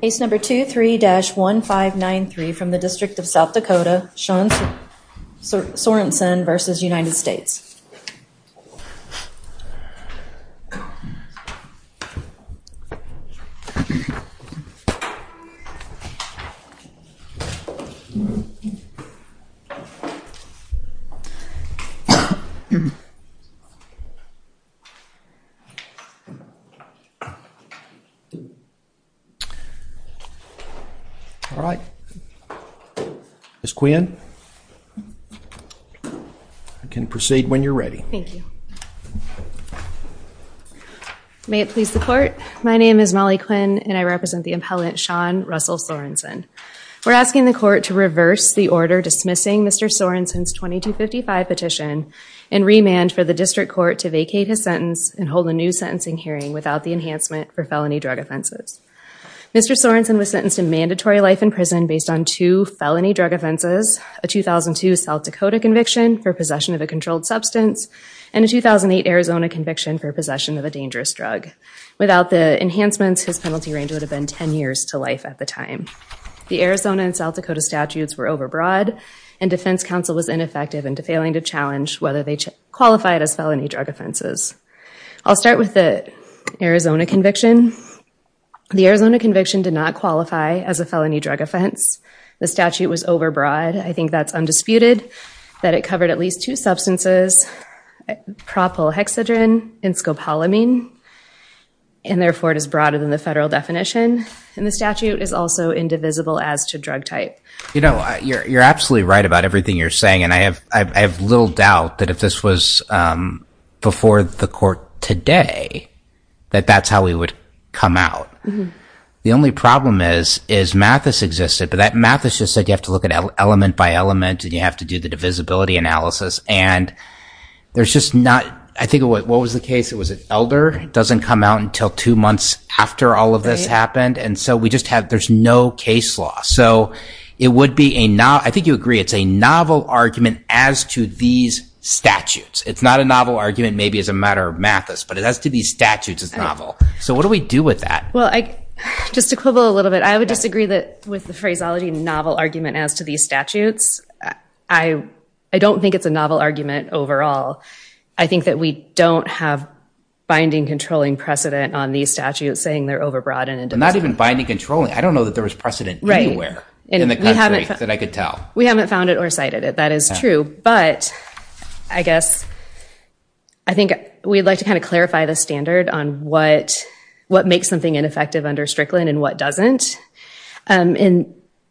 Case number 23-1593 from the District of South Dakota, Sorensen v. United States. All right. Ms. Quinn, you can proceed when you're ready. Thank you. May it please the court, my name is Molly Quinn and I represent the impellant Sean Russell Sorensen. We're asking the court to reverse the order dismissing Mr. Sorensen's 2255 petition and remand for the district court to vacate his sentence and hold a new sentencing hearing without the enhancement for felony drug offenses. Mr. Sorensen was sentenced to mandatory life in prison based on two felony drug offenses, a 2002 South Dakota conviction for possession of a controlled substance and a 2008 Arizona conviction for possession of a dangerous drug. Without the enhancements his penalty range would have been ten years to life at the time. The Arizona and South Dakota statutes were overbroad and defense counsel was ineffective into failing to challenge whether they qualified as felony drug offenses. I'll start with the Arizona conviction. The Arizona conviction did not qualify as a felony drug offense. The statute was overbroad. I think that's undisputed that it covered at least two substances propylhexadrine and scopolamine and therefore it is broader than the federal definition and the statute is also indivisible as to drug type. You know you're absolutely right about everything you're saying and I have I have little doubt that if this was before the court today that that's how we would come out. The only problem is is Mathis existed but that Mathis just said you have to look at element by element and you have to do the divisibility analysis and there's just not I think what was the case it was an elder doesn't come out until two months after all of this happened and so we just have there's no case law so it would be a not I think you agree it's a novel argument as to these statutes. It's not a novel argument maybe as a matter of Mathis but it has to be statutes as novel. So what do we do with that? Well I just equivalent a little bit I would disagree that with the phraseology novel argument as to these statutes. I don't think it's a novel argument overall. I think that we don't have binding controlling precedent on these statutes saying they're over broadened. Not even binding controlling I don't know that there was precedent anywhere in the country that I could tell. We haven't found it or cited it that is true but I guess I think we'd like to kind of clarify the standard on what what makes something ineffective under Strickland and what doesn't and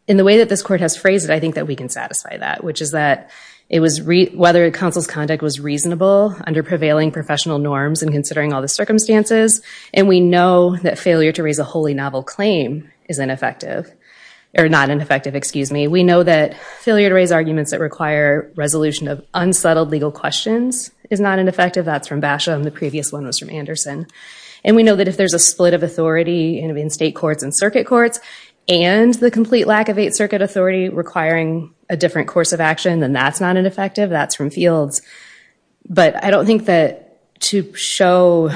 in the way that this court has phrased it I think that we can satisfy that which is that it was whether counsel's conduct was reasonable under prevailing professional norms and considering all the circumstances and we know that failure to raise a wholly novel claim is not ineffective or not ineffective excuse me. We know that failure to raise arguments that require resolution of unsettled legal questions is not ineffective. That's from Basham the previous one was from Anderson and we know that if there's a split of authority in state courts and circuit courts and the complete lack of eight circuit authority requiring a different course of action then that's not ineffective that's from Fields. But I don't think that to show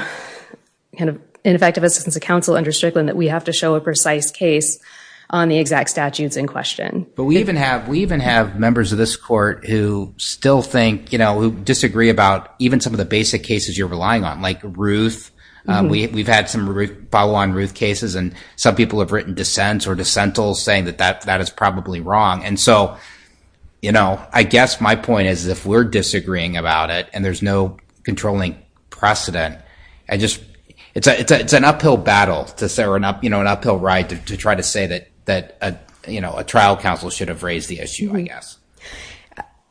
kind of ineffective assistance of counsel under Strickland that we have to show a precise case on the exact statutes in question. But we even have we even have members of this court who still think you know who disagree about even some of the basic cases you're relying on like Ruth we've had some follow on Ruth cases and some people have written dissents or dissentals saying that that that is probably wrong and so you know I guess my point is if we're disagreeing about it and there's no controlling precedent and just it's a it's an uphill battle to say we're not you know an uphill ride to try to say that that you know a trial counsel should have raised the issue I guess.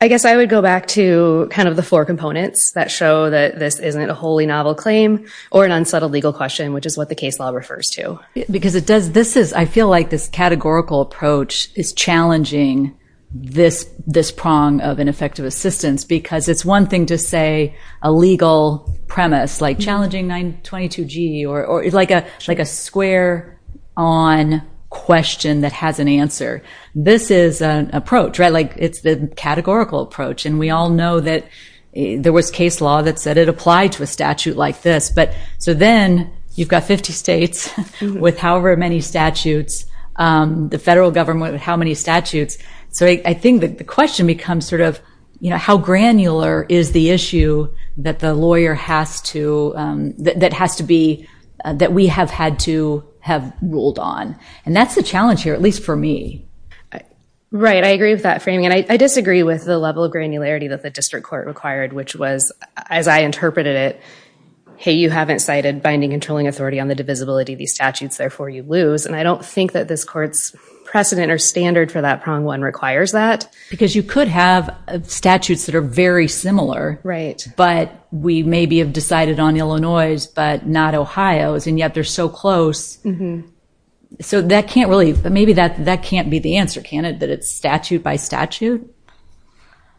I guess I would go back to kind of the four components that show that this isn't a wholly novel claim or an unsettled legal question which is what the case law refers to. Because it does this is I feel like this categorical approach is challenging this this prong of ineffective assistance because it's one thing to say a legal premise like challenging 922 G or it's like a like a square on question that has an answer. This is an approach right like it's the categorical approach and we all know that there was case law that said it applied to a statute like this but so then you've got 50 states with however many statutes the federal government how many statutes so I think that the becomes sort of you know how granular is the issue that the lawyer has to that has to be that we have had to have ruled on and that's the challenge here at least for me. Right I agree with that framing and I disagree with the level of granularity that the district court required which was as I interpreted it hey you haven't cited binding controlling authority on the divisibility these statutes therefore you lose and I don't think that this courts precedent or standard for that prong one requires that. Because you could have statutes that are very similar right but we may be have decided on Illinois's but not Ohio's and yet they're so close so that can't really but maybe that that can't be the answer can it that it's statute by statute?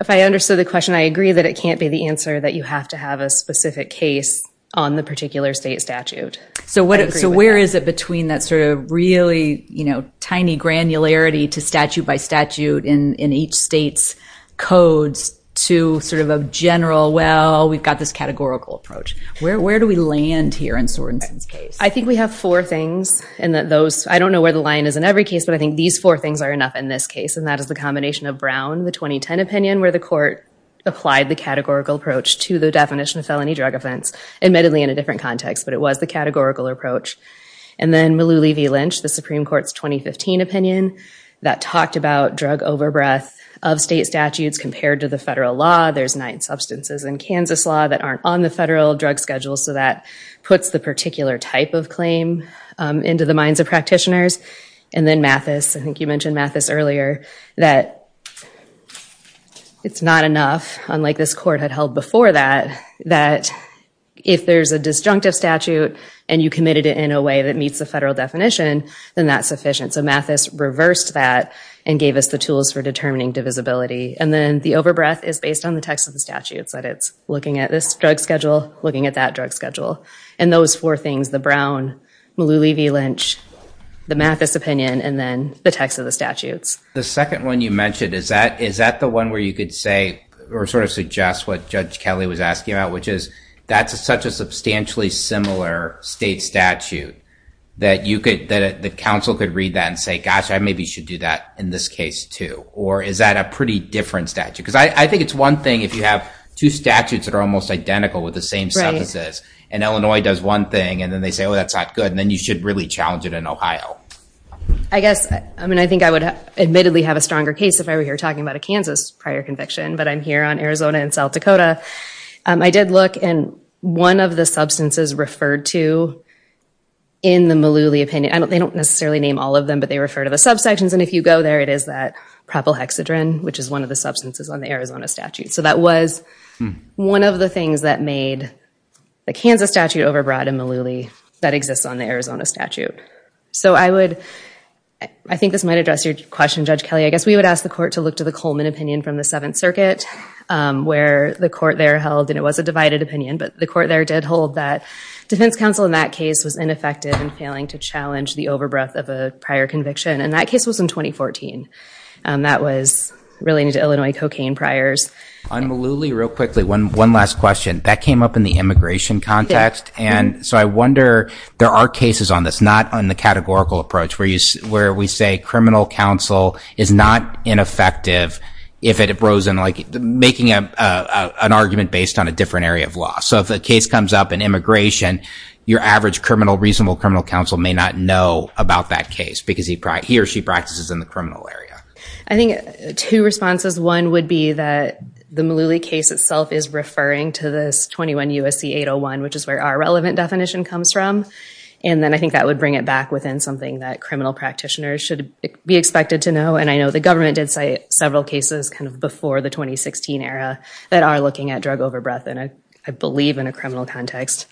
If I understood the question I agree that it can't be the answer that you have to have a specific case on the particular state statute. So what so where is it between that sort of really you know tiny granularity to statute by statute in in each state's codes to sort of a general well we've got this categorical approach. Where do we land here in Sorensen's case? I think we have four things and that those I don't know where the line is in every case but I think these four things are enough in this case and that is the combination of Brown the 2010 opinion where the court applied the categorical approach to the definition of felony drug offense admittedly in a different context but it was the categorical approach and then Lou Levi Lynch the Supreme Court's 2015 opinion that talked about drug overbreadth of state statutes compared to the federal law there's nine substances in Kansas law that aren't on the federal drug schedule so that puts the particular type of claim into the minds of practitioners and then Mathis I think you mentioned Mathis earlier that it's not enough unlike this court had held before that that if there's a disjunctive statute and you committed it in a way that meets the federal definition then that's sufficient so Mathis reversed that and gave us the tools for determining divisibility and then the overbreath is based on the text of the statutes that it's looking at this drug schedule looking at that drug schedule and those four things the Brown Lou Levi Lynch the Mathis opinion and then the text of the statutes. The second one you mentioned is that is that the one where you could say or sort of suggest what Judge Kelly was asking about which is that's such a substantially similar state statute that you could that the council could read that and say gosh I maybe should do that in this case too or is that a pretty different statute because I think it's one thing if you have two statutes that are almost identical with the same sentences and Illinois does one thing and then they say oh that's not good and then you should really challenge it in Ohio. I guess I mean I think I would admittedly have a stronger case if I were here talking about a Kansas prior conviction but I'm here on Arizona and South Dakota I did look and one of the substances referred to in the Malouli opinion I don't they don't necessarily name all of them but they refer to the subsections and if you go there it is that propylhexadrine which is one of the substances on the Arizona statute so that was one of the things that made the Kansas statute overbrought in Malouli that exists on the Arizona statute so I would I think this might address your question Judge Kelly I guess we would ask the court to look to the Coleman opinion from the Seventh Circuit where the court there held and it was a divided opinion but the court there did hold that defense counsel in that case was ineffective and failing to challenge the overbreath of a prior conviction and that case was in 2014 and that was relating to Illinois cocaine priors. On Malouli real quickly one one last question that came up in the immigration context and so I wonder there are cases on this not on the categorical approach where you where we say criminal counsel is not ineffective if it arose in like making a an argument based on a different area of law so if the case comes up in immigration your average criminal reasonable criminal counsel may not know about that case because he brought he or she practices in the criminal area. I think two responses one would be that the Malouli case itself is referring to this 21 USC 801 which is where our relevant definition comes from and then I think that would bring it back within something that criminal practitioners should be expected to know and I know the government did say several cases kind of before the 2016 era that are looking at drug overbreath and I believe in a criminal context.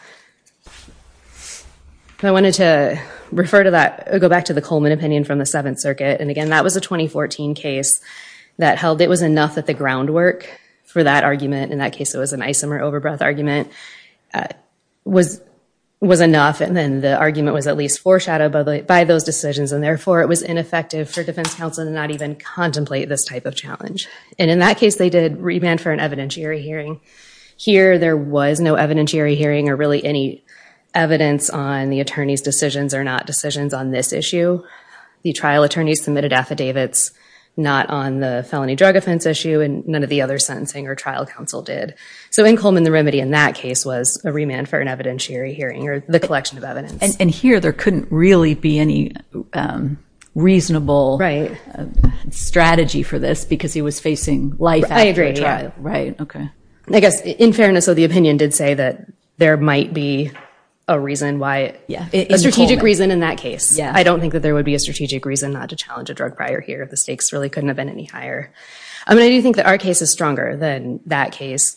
I wanted to refer to that go back to the Coleman opinion from the Seventh Circuit and again that was a 2014 case that held it was enough at the groundwork for that argument in that case it was an isomer overbreath argument was was enough and then the argument was at least foreshadowed by the by those decisions and therefore it was ineffective for defense counsel to not even contemplate this type of challenge and in that case they did remand for an evidentiary hearing. Here there was no evidentiary hearing or really any evidence on the attorneys decisions or not decisions on this issue. The trial attorneys submitted affidavits not on the felony drug offense issue and none of the other sentencing or trial counsel did. So in Coleman the remedy in that case was a remand for an evidentiary hearing or the collection of evidence. And here there couldn't really be any reasonable strategy for this because he was facing life after the trial. I agree. I guess in fairness of the opinion did say that there might be a reason why yeah a strategic reason in that case yeah I don't think that there would be a strategic reason not to challenge a drug prior here if the stakes really couldn't have been any higher. I mean I do think that our case is stronger than that case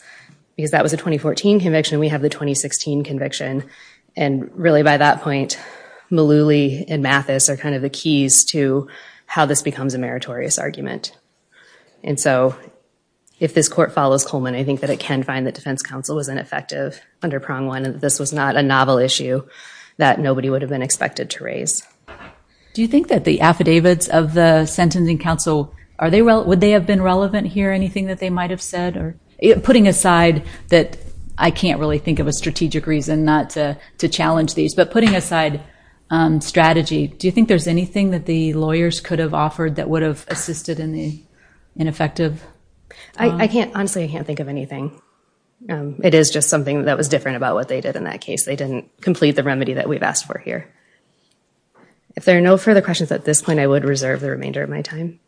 because that was a 2014 conviction we have the 2016 conviction and really by that point Malouli and Mathis are kind of the keys to how this becomes a meritorious argument. And so if this court follows Coleman I think that it can find that defense counsel was ineffective under prong one and this was not a novel issue that nobody would have been expected to raise. Do you think that the affidavits of the sentencing counsel are they well would they have been relevant here anything that they might have said or putting aside that I can't really think of a strategic reason not to to challenge these but putting aside strategy do you think there's anything that the lawyers could have offered that would have assisted in the ineffective? I can't honestly I can't think of anything. It is just something that was different about what they did in that case they didn't complete the remedy that we've asked for here. If there are no further questions at this point I would reserve the remainder of my time.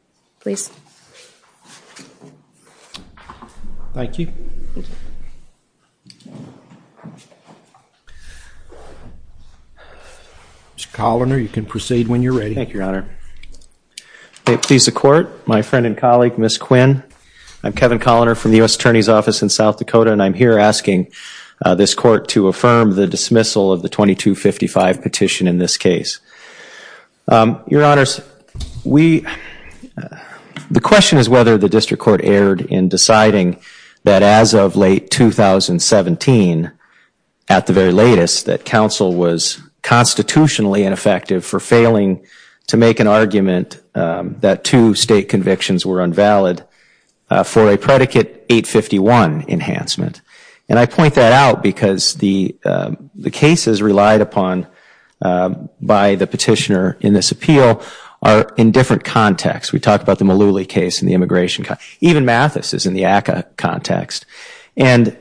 Please. Thank you. Mr. Colliner you can proceed when you're ready. Thank you your honor. Please the court my friend and colleague Miss Quinn I'm Kevin Colliner from the US Attorney's Office in South Dakota and I'm here asking this court to affirm the dismissal of the 2255 petition in this case. Your honors we the question is whether the district court erred in deciding that as of late 2017 at the very latest that counsel was constitutionally ineffective for failing to make an argument that two state convictions were invalid for a predicate 851 enhancement and I point that out because the the cases relied upon by the petitioner in this appeal are in different contexts. We talked about the Malooly case in the immigration case even Mathis is in the ACA context and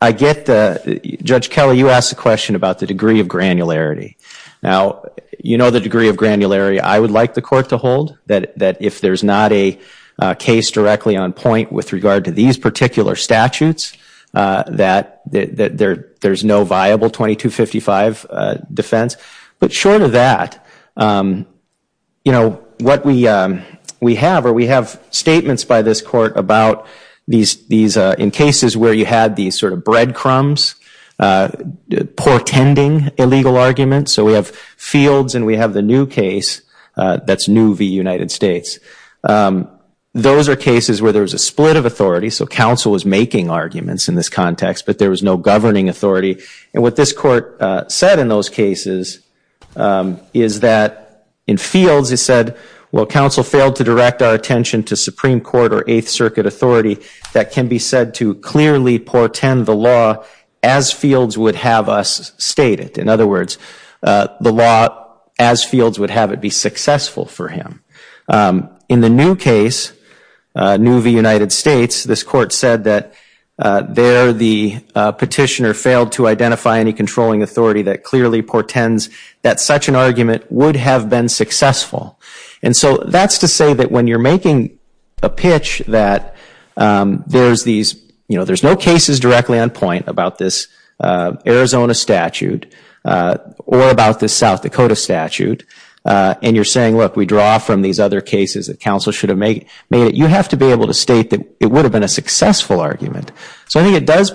I get the Judge Kelly you asked a question about the degree of granularity. Now you know the degree of granularity I would like the court to hold that that if there's not a case directly on point with regard to these particular statutes that there there's no viable 2255 defense but short of that you know what we we have or we have statements by this court about these these in cases where you had these sort of breadcrumbs portending illegal arguments so we have fields and we have the new case that's new v. United States. Those are cases where there was a split of authority so counsel was making arguments in this context but there was no governing authority and what this court said in those cases is that in fields it said well counsel failed to direct our attention to Supreme Court or Eighth Circuit authority that can be said to clearly portend the law as fields would have us state it. In other words the law as fields would have it be successful for him. In the new case new v. United States this court said that there the petitioner failed to identify any controlling authority that clearly portends that such an argument would have been successful and so that's to say that when you're making a pitch that there's these you know there's no cases directly on point about this Arizona statute or about this South Dakota statute and you're saying look we draw from these other cases that counsel should have made made it you have to be able to state that it would have been a successful argument. So I think it does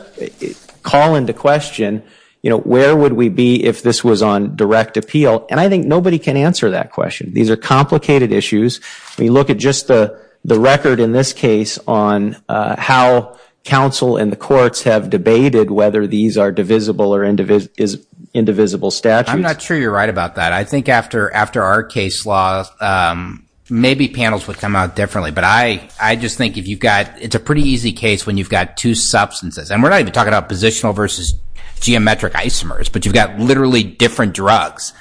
call into question you know where would we be if this was on direct appeal and I think nobody can answer that question. These are complicated issues we look at the record in this case on how counsel and the courts have debated whether these are divisible or indivisible statutes. I'm not sure you're right about that I think after after our case law maybe panels would come out differently but I I just think if you've got it's a pretty easy case when you've got two substances and we're not even talking about positional versus geometric isomers but you've got literally different drugs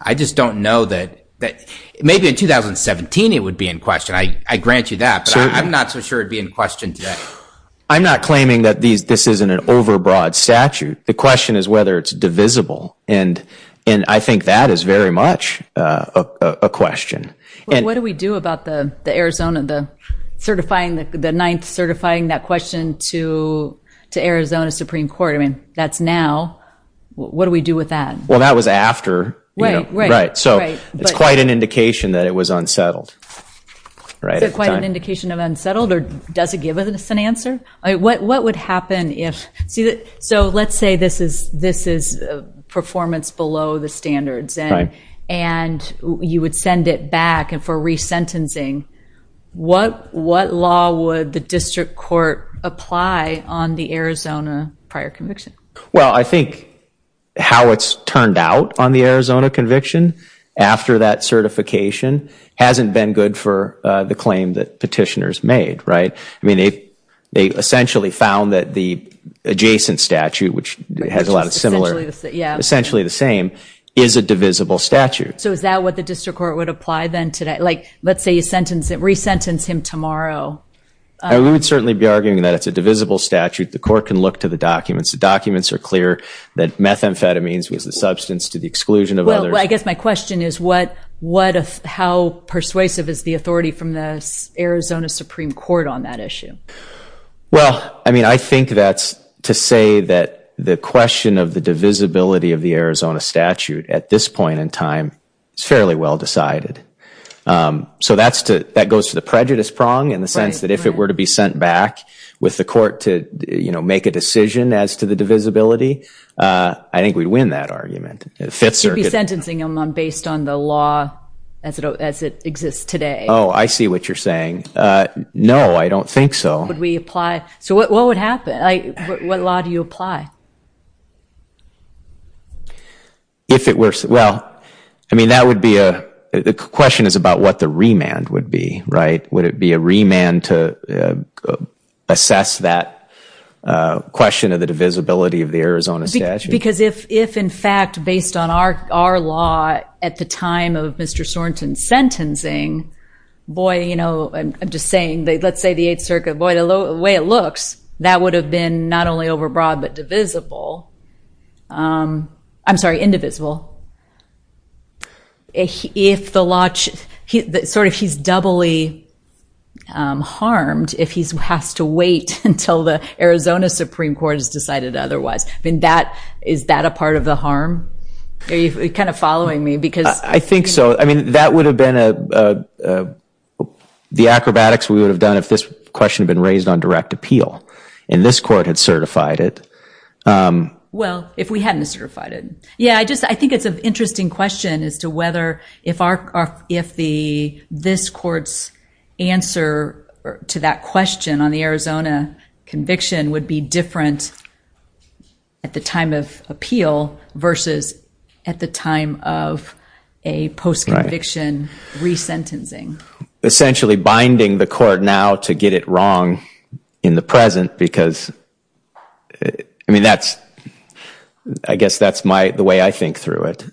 I just don't know that that maybe in 2017 it would be in question I I grant you that I'm not so sure it'd be in question today. I'm not claiming that these this isn't an overbroad statute the question is whether it's divisible and and I think that is very much a question. What do we do about the Arizona the certifying the ninth certifying that question to to Arizona Supreme Court I mean that's now what do we do with that? Well that was after right so it's quite an indication that it was unsettled right quite an indication of unsettled or does it give us an answer I what what would happen if see that so let's say this is this is performance below the standards and and you would send it back and for resentencing what what law would the district court apply on the Arizona prior conviction? Well I think how it's turned out on the Arizona conviction after that certification hasn't been good for the claim that petitioners made right I mean it they essentially found that the adjacent statute which has a lot of similar yeah essentially the same is a divisible statute. So is that what the district court would apply then today like let's say you sentence it resentence him tomorrow? I would certainly be arguing that it's a divisible statute the court can look to the documents the documents are clear that methamphetamines was the substance to the exclusion of others. Well I guess my question is what what how persuasive is the authority from this Arizona Supreme Court on that issue? Well I mean I think that's to say that the question of the divisibility of the Arizona statute at this point in time it's fairly well decided. So that's to that goes to the prejudice prong in the sense that if it were to be sent back with the court to you know make a decision as to the divisibility I think we'd win that argument. You'd be sentencing him based on the law as it as it exists today. Oh I see what you're saying. No I don't think so. Would we apply so what what would happen like what law do you apply? If it were well I mean that would be a the question is about what the remand would be right would it be a remand to assess that question of the visibility of the Arizona statute? Because if if in fact based on our our law at the time of Mr. Sorenson's sentencing boy you know I'm just saying they let's say the Eighth Circuit boy the low way it looks that would have been not only overbroad but divisible I'm sorry indivisible. If the launch he sort of he's doubly harmed if he's has to wait until the Arizona Supreme Court has decided otherwise I mean that is that a part of the harm? Are you kind of following me? Because I think so I mean that would have been a the acrobatics we would have done if this question had been raised on direct appeal and this court had certified it. Well if we hadn't certified it yeah I just I think it's an interesting question as to whether if our if the this courts answer to that question on the Arizona conviction would be different at the time of appeal versus at the time of a post conviction resentencing. Essentially binding the court now to get it wrong in the present because I mean that's I guess that's my the way I think through it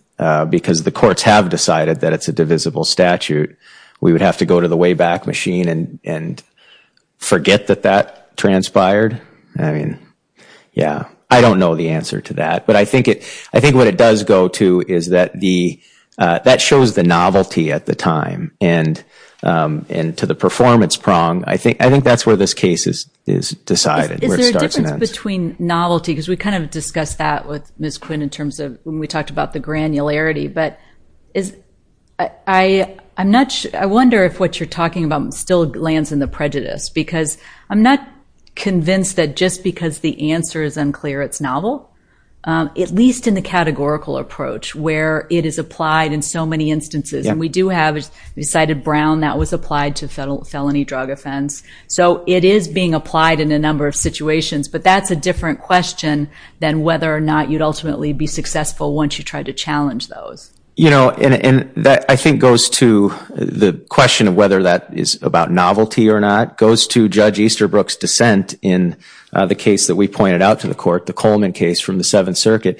because the courts have decided that it's a statute we would have to go to the way back machine and and forget that that transpired I mean yeah I don't know the answer to that but I think it I think what it does go to is that the that shows the novelty at the time and and to the performance prong I think I think that's where this case is is decided between novelty because we kind of discussed that with Miss Quinn in terms of when we talked about the granularity but is I I'm not sure I wonder if what you're talking about still lands in the prejudice because I'm not convinced that just because the answer is unclear it's novel at least in the categorical approach where it is applied in so many instances and we do have decided Brown that was applied to federal felony drug offense so it is being applied in a number of situations but that's a different question than whether or not you'd ultimately be successful once you tried to challenge those you know and that I think goes to the question of whether that is about novelty or not goes to Judge Easterbrook's dissent in the case that we pointed out to the court the Coleman case from the Seventh Circuit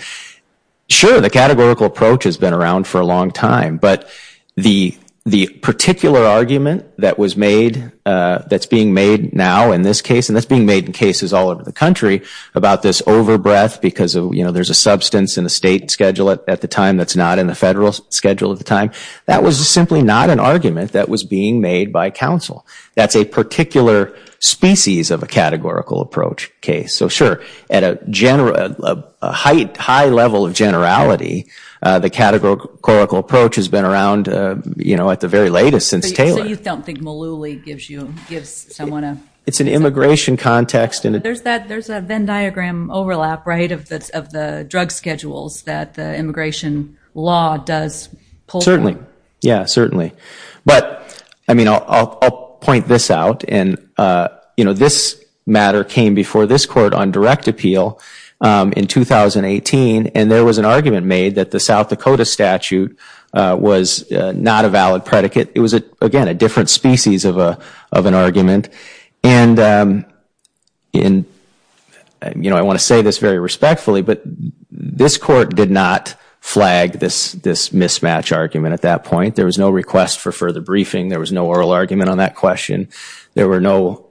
sure the categorical approach has been around for a long time but the the particular argument that was made that's being made now in this case and that's being made in cases all over the about this overbreath because of you know there's a substance in the state schedule it at the time that's not in the federal schedule at the time that was just simply not an argument that was being made by counsel that's a particular species of a categorical approach case so sure at a general height high level of generality the categorical approach has been around you know at the very latest since Taylor it's an immigration context and there's that there's a Venn diagram overlap right of the drug schedules that the immigration law does certainly yeah certainly but I mean I'll point this out and you know this matter came before this court on direct appeal in 2018 and there was an argument made that the South Dakota statute was not a valid argument and in you know I want to say this very respectfully but this court did not flag this this mismatch argument at that point there was no request for further briefing there was no oral argument on that question there were no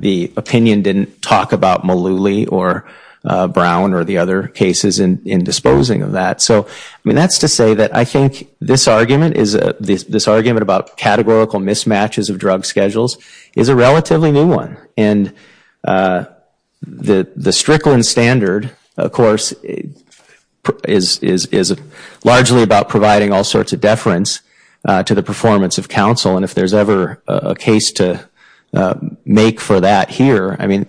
the opinion didn't talk about Malouli or Brown or the other cases in disposing of that so I mean that's to say that I think this argument is a this argument about categorical mismatches of drug schedules is a relatively new one and the the Strickland standard of course is is is a largely about providing all sorts of deference to the performance of counsel and if there's ever a case to make for that here I mean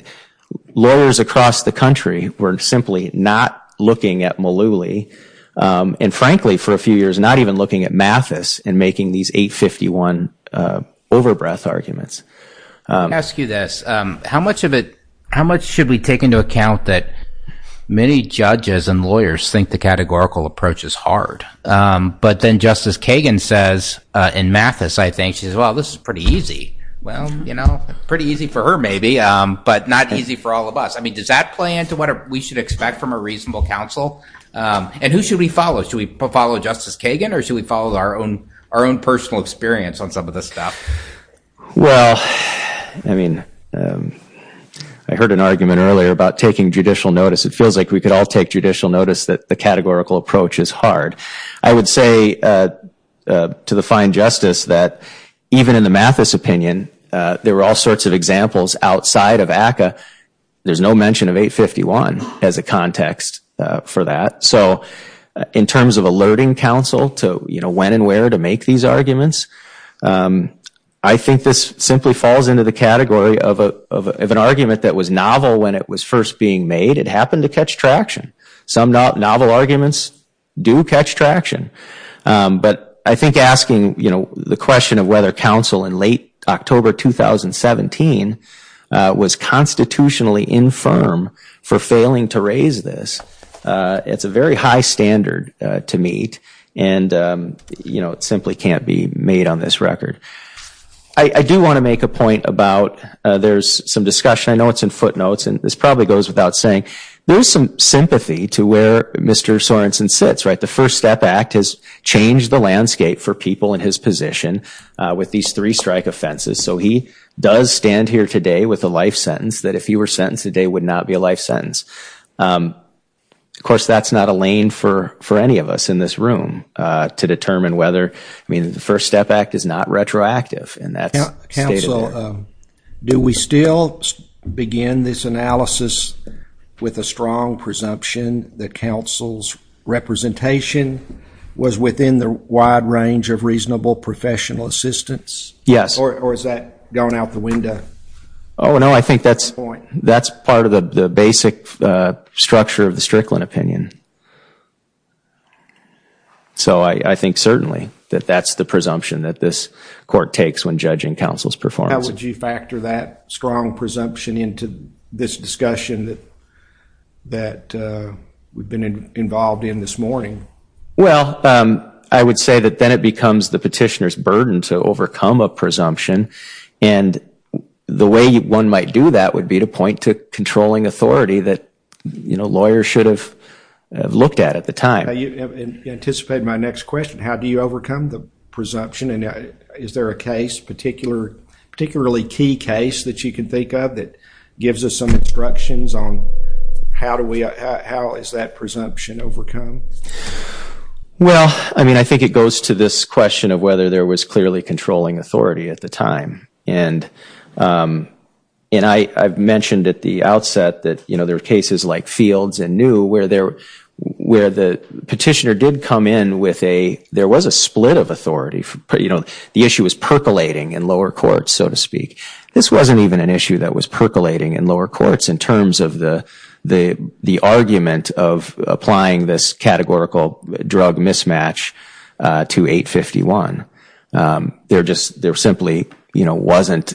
lawyers across the country were simply not looking at Malouli and frankly for a few years not even looking at Mathis and making these 851 overbreath arguments ask you this how much of it how much should we take into account that many judges and lawyers think the categorical approach is hard but then Justice Kagan says in Mathis I think she's well this is pretty easy well you know pretty easy for her maybe but not easy for all of us I mean does that play into what we should expect from a reasonable counsel and who should we follow should we follow Justice Kagan or should we follow our own our own personal experience on some of this stuff well I mean I heard an argument earlier about taking judicial notice it feels like we could all take judicial notice that the categorical approach is hard I would say to the fine justice that even in the Mathis opinion there were all sorts of examples outside of ACA there's no mention of 851 as a counsel to you know when and where to make these arguments I think this simply falls into the category of a of an argument that was novel when it was first being made it happened to catch traction some novel arguments do catch traction but I think asking you know the question of whether counsel in late October 2017 was constitutionally infirm for failing to raise this it's a very standard to meet and you know it simply can't be made on this record I do want to make a point about there's some discussion I know it's in footnotes and this probably goes without saying there's some sympathy to where mr. Sorenson sits right the first step act has changed the landscape for people in his position with these three strike offenses so he does stand here today with a life sentence that if you were sentenced today would not be a life sentence of course that's not a lane for for any of us in this room to determine whether I mean the first step act is not retroactive and that's counsel do we still begin this analysis with a strong presumption that counsel's representation was within the wide range of reasonable professional assistance yes or is that gone out the window oh no I think that's point that's part of the basic structure of the Strickland opinion so I think certainly that that's the presumption that this court takes when judging counsel's performance would you factor that strong presumption into this discussion that that we've been involved in this morning well I would say that then it becomes the petitioners burden to overcome a presumption and the way one might do that would be to point to controlling authority that you know lawyers should have looked at at the time you anticipate my next question how do you overcome the presumption and is there a case particular particularly key case that you can think of that gives us some instructions on how do we how is that presumption overcome well I mean I think it goes to this question of whether there was clearly controlling authority at the time and and I I've mentioned at the outset that you know there are cases like fields and new where there where the petitioner did come in with a there was a split of authority for you know the issue was percolating in lower courts so to speak this wasn't even an issue that was percolating in lower courts in terms of the the the argument of applying this categorical drug mismatch to 851 they're just they're simply you know wasn't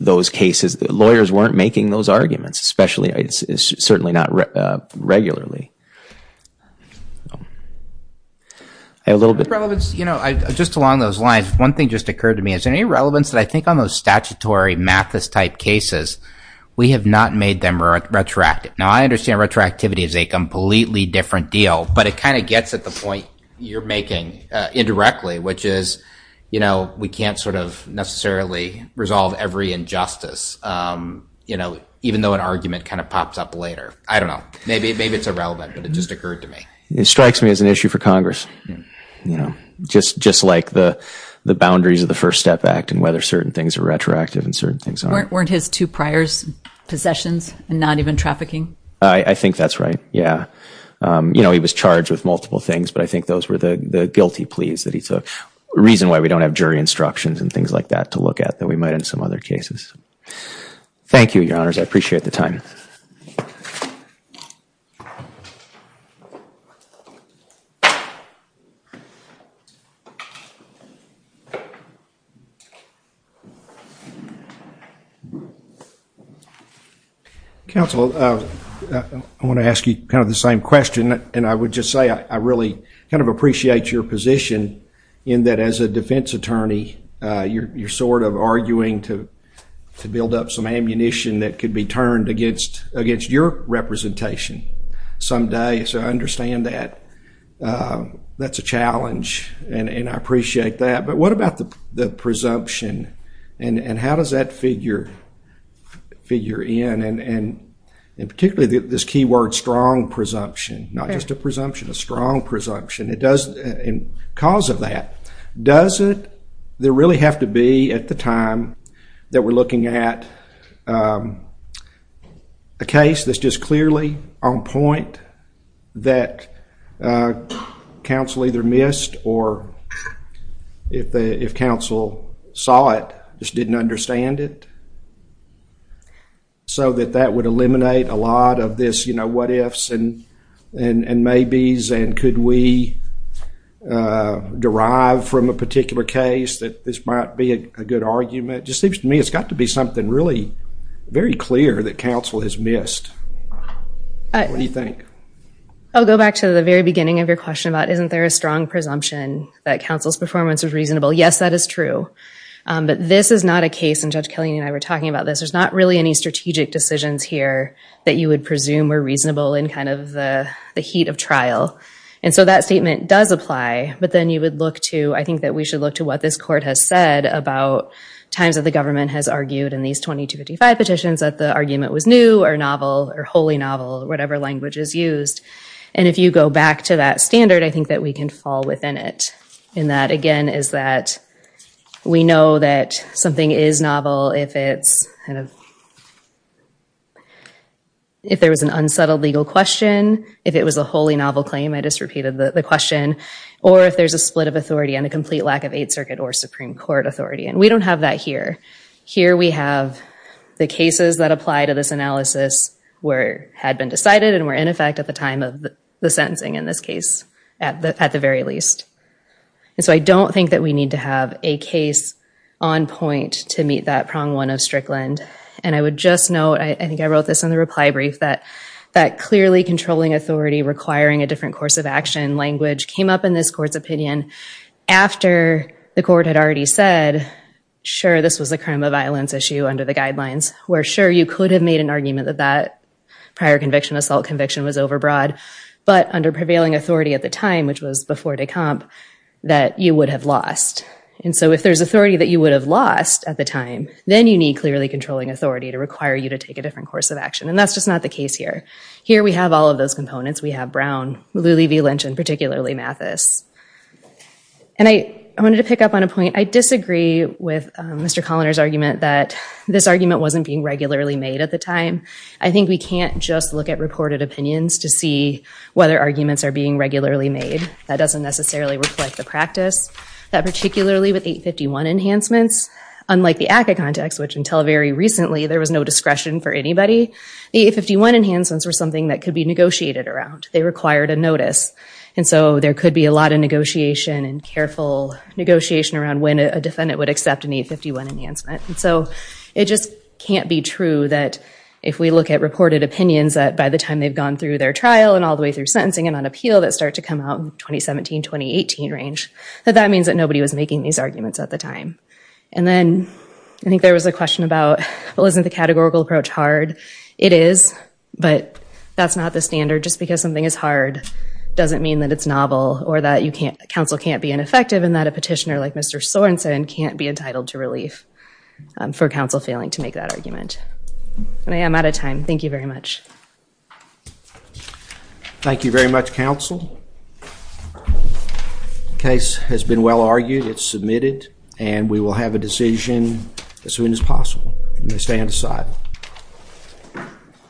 those cases the lawyers weren't making those arguments especially it's certainly not regularly a little bit relevance you know I just along those lines one thing just occurred to me as an irrelevance that I think on those statutory Mathis type cases we have not made them retroactive now I understand retroactivity is a completely different deal but it kind of gets at the point you're making indirectly which is you know we can't sort of necessarily resolve every injustice you know even though an argument kind of pops up later I don't know maybe maybe it's irrelevant but it just occurred to me it strikes me as an issue for Congress you know just just like the the boundaries of the First Step Act and whether certain things are retroactive and certain things aren't weren't his two priors possessions and not even trafficking I think that's right yeah you know he was charged with multiple things but I think those were the guilty pleas that he took reason why we don't have jury instructions and things like that to look at that we might in some other cases thank you your honors I appreciate the time counsel I want to ask you kind of the same question and I would just say I really kind of appreciate your position in that as a defense attorney you're you're sort of arguing to to build up some ammunition that could be turned against against your representation someday so I understand that that's a challenge and and I appreciate that but what about the presumption and and how does that figure figure in and and in particularly this keyword strong presumption not just a presumption a strong presumption it does in cause of that does it there really have to be at the time that we're looking at a case that's just clearly on point that counsel either missed or if the if counsel saw it just didn't understand it so that that would eliminate a lot of this you know what ifs and and and maybes and could we derive from a particular case that this might be a good argument just seems to me it's got to be something really very clear that counsel has missed I do you think I'll go back to the very beginning of your question about isn't there a strong presumption that counsel's performance is reasonable yes that is true but this is not a case and judge Kelly and I were talking about this there's not really any strategic decisions here that you would presume were reasonable in kind of the the heat of trial and so that statement does apply but then you would look to I think that we should look to what this court has said about times that the government has argued in these 2255 petitions that the argument was new or novel or wholly novel whatever language is used and if you go back to that standard I think that we can fall within it and that again is that we know that something is novel if it's kind of if there was an unsettled legal question if it was a wholly novel claim I just repeated the question or if there's a split of authority and a complete lack of Eighth Circuit or Supreme Court authority and we don't have that here here we have the cases that apply to this analysis where had been decided and we're in effect at the time of the sentencing in this case at the at the very least and so I don't think that we need to have a case on point to meet that prong one of Strickland and I would just note I think I wrote this in the reply brief that that clearly controlling authority requiring a different course of action language came up in this court's opinion after the court had already said sure this was a crime of violence issue under the guidelines we're sure you could have made an that that prior conviction assault conviction was overbroad but under prevailing authority at the time which was before de compte that you would have lost and so if there's authority that you would have lost at the time then you need clearly controlling authority to require you to take a different course of action and that's just not the case here here we have all of those components we have Brown, Lulee v Lynch and particularly Mathis and I wanted to pick up on a point I disagree with Mr. Colliner's argument that this argument wasn't being regularly made at the time I think we can't just look at reported opinions to see whether arguments are being regularly made that doesn't necessarily reflect the practice that particularly with 851 enhancements unlike the ACA context which until very recently there was no discretion for anybody the 851 enhancements were something that could be negotiated around they required a notice and so there could be a lot of negotiation and careful negotiation around when a defendant would accept an 851 enhancement and so it just can't be true that if we look at reported opinions that by the time they've gone through their trial and all the way through sentencing and on appeal that start to come out in 2017-2018 range that that means that nobody was making these arguments at the time and then I think there was a question about well isn't the categorical approach hard it is but that's not the standard just because something is hard doesn't mean that it's novel or that you can't counsel can't be ineffective and that a for counsel failing to make that argument and I am out of time thank you very much thank you very much counsel case has been well argued it's submitted and we will have a decision as soon as possible you may stand aside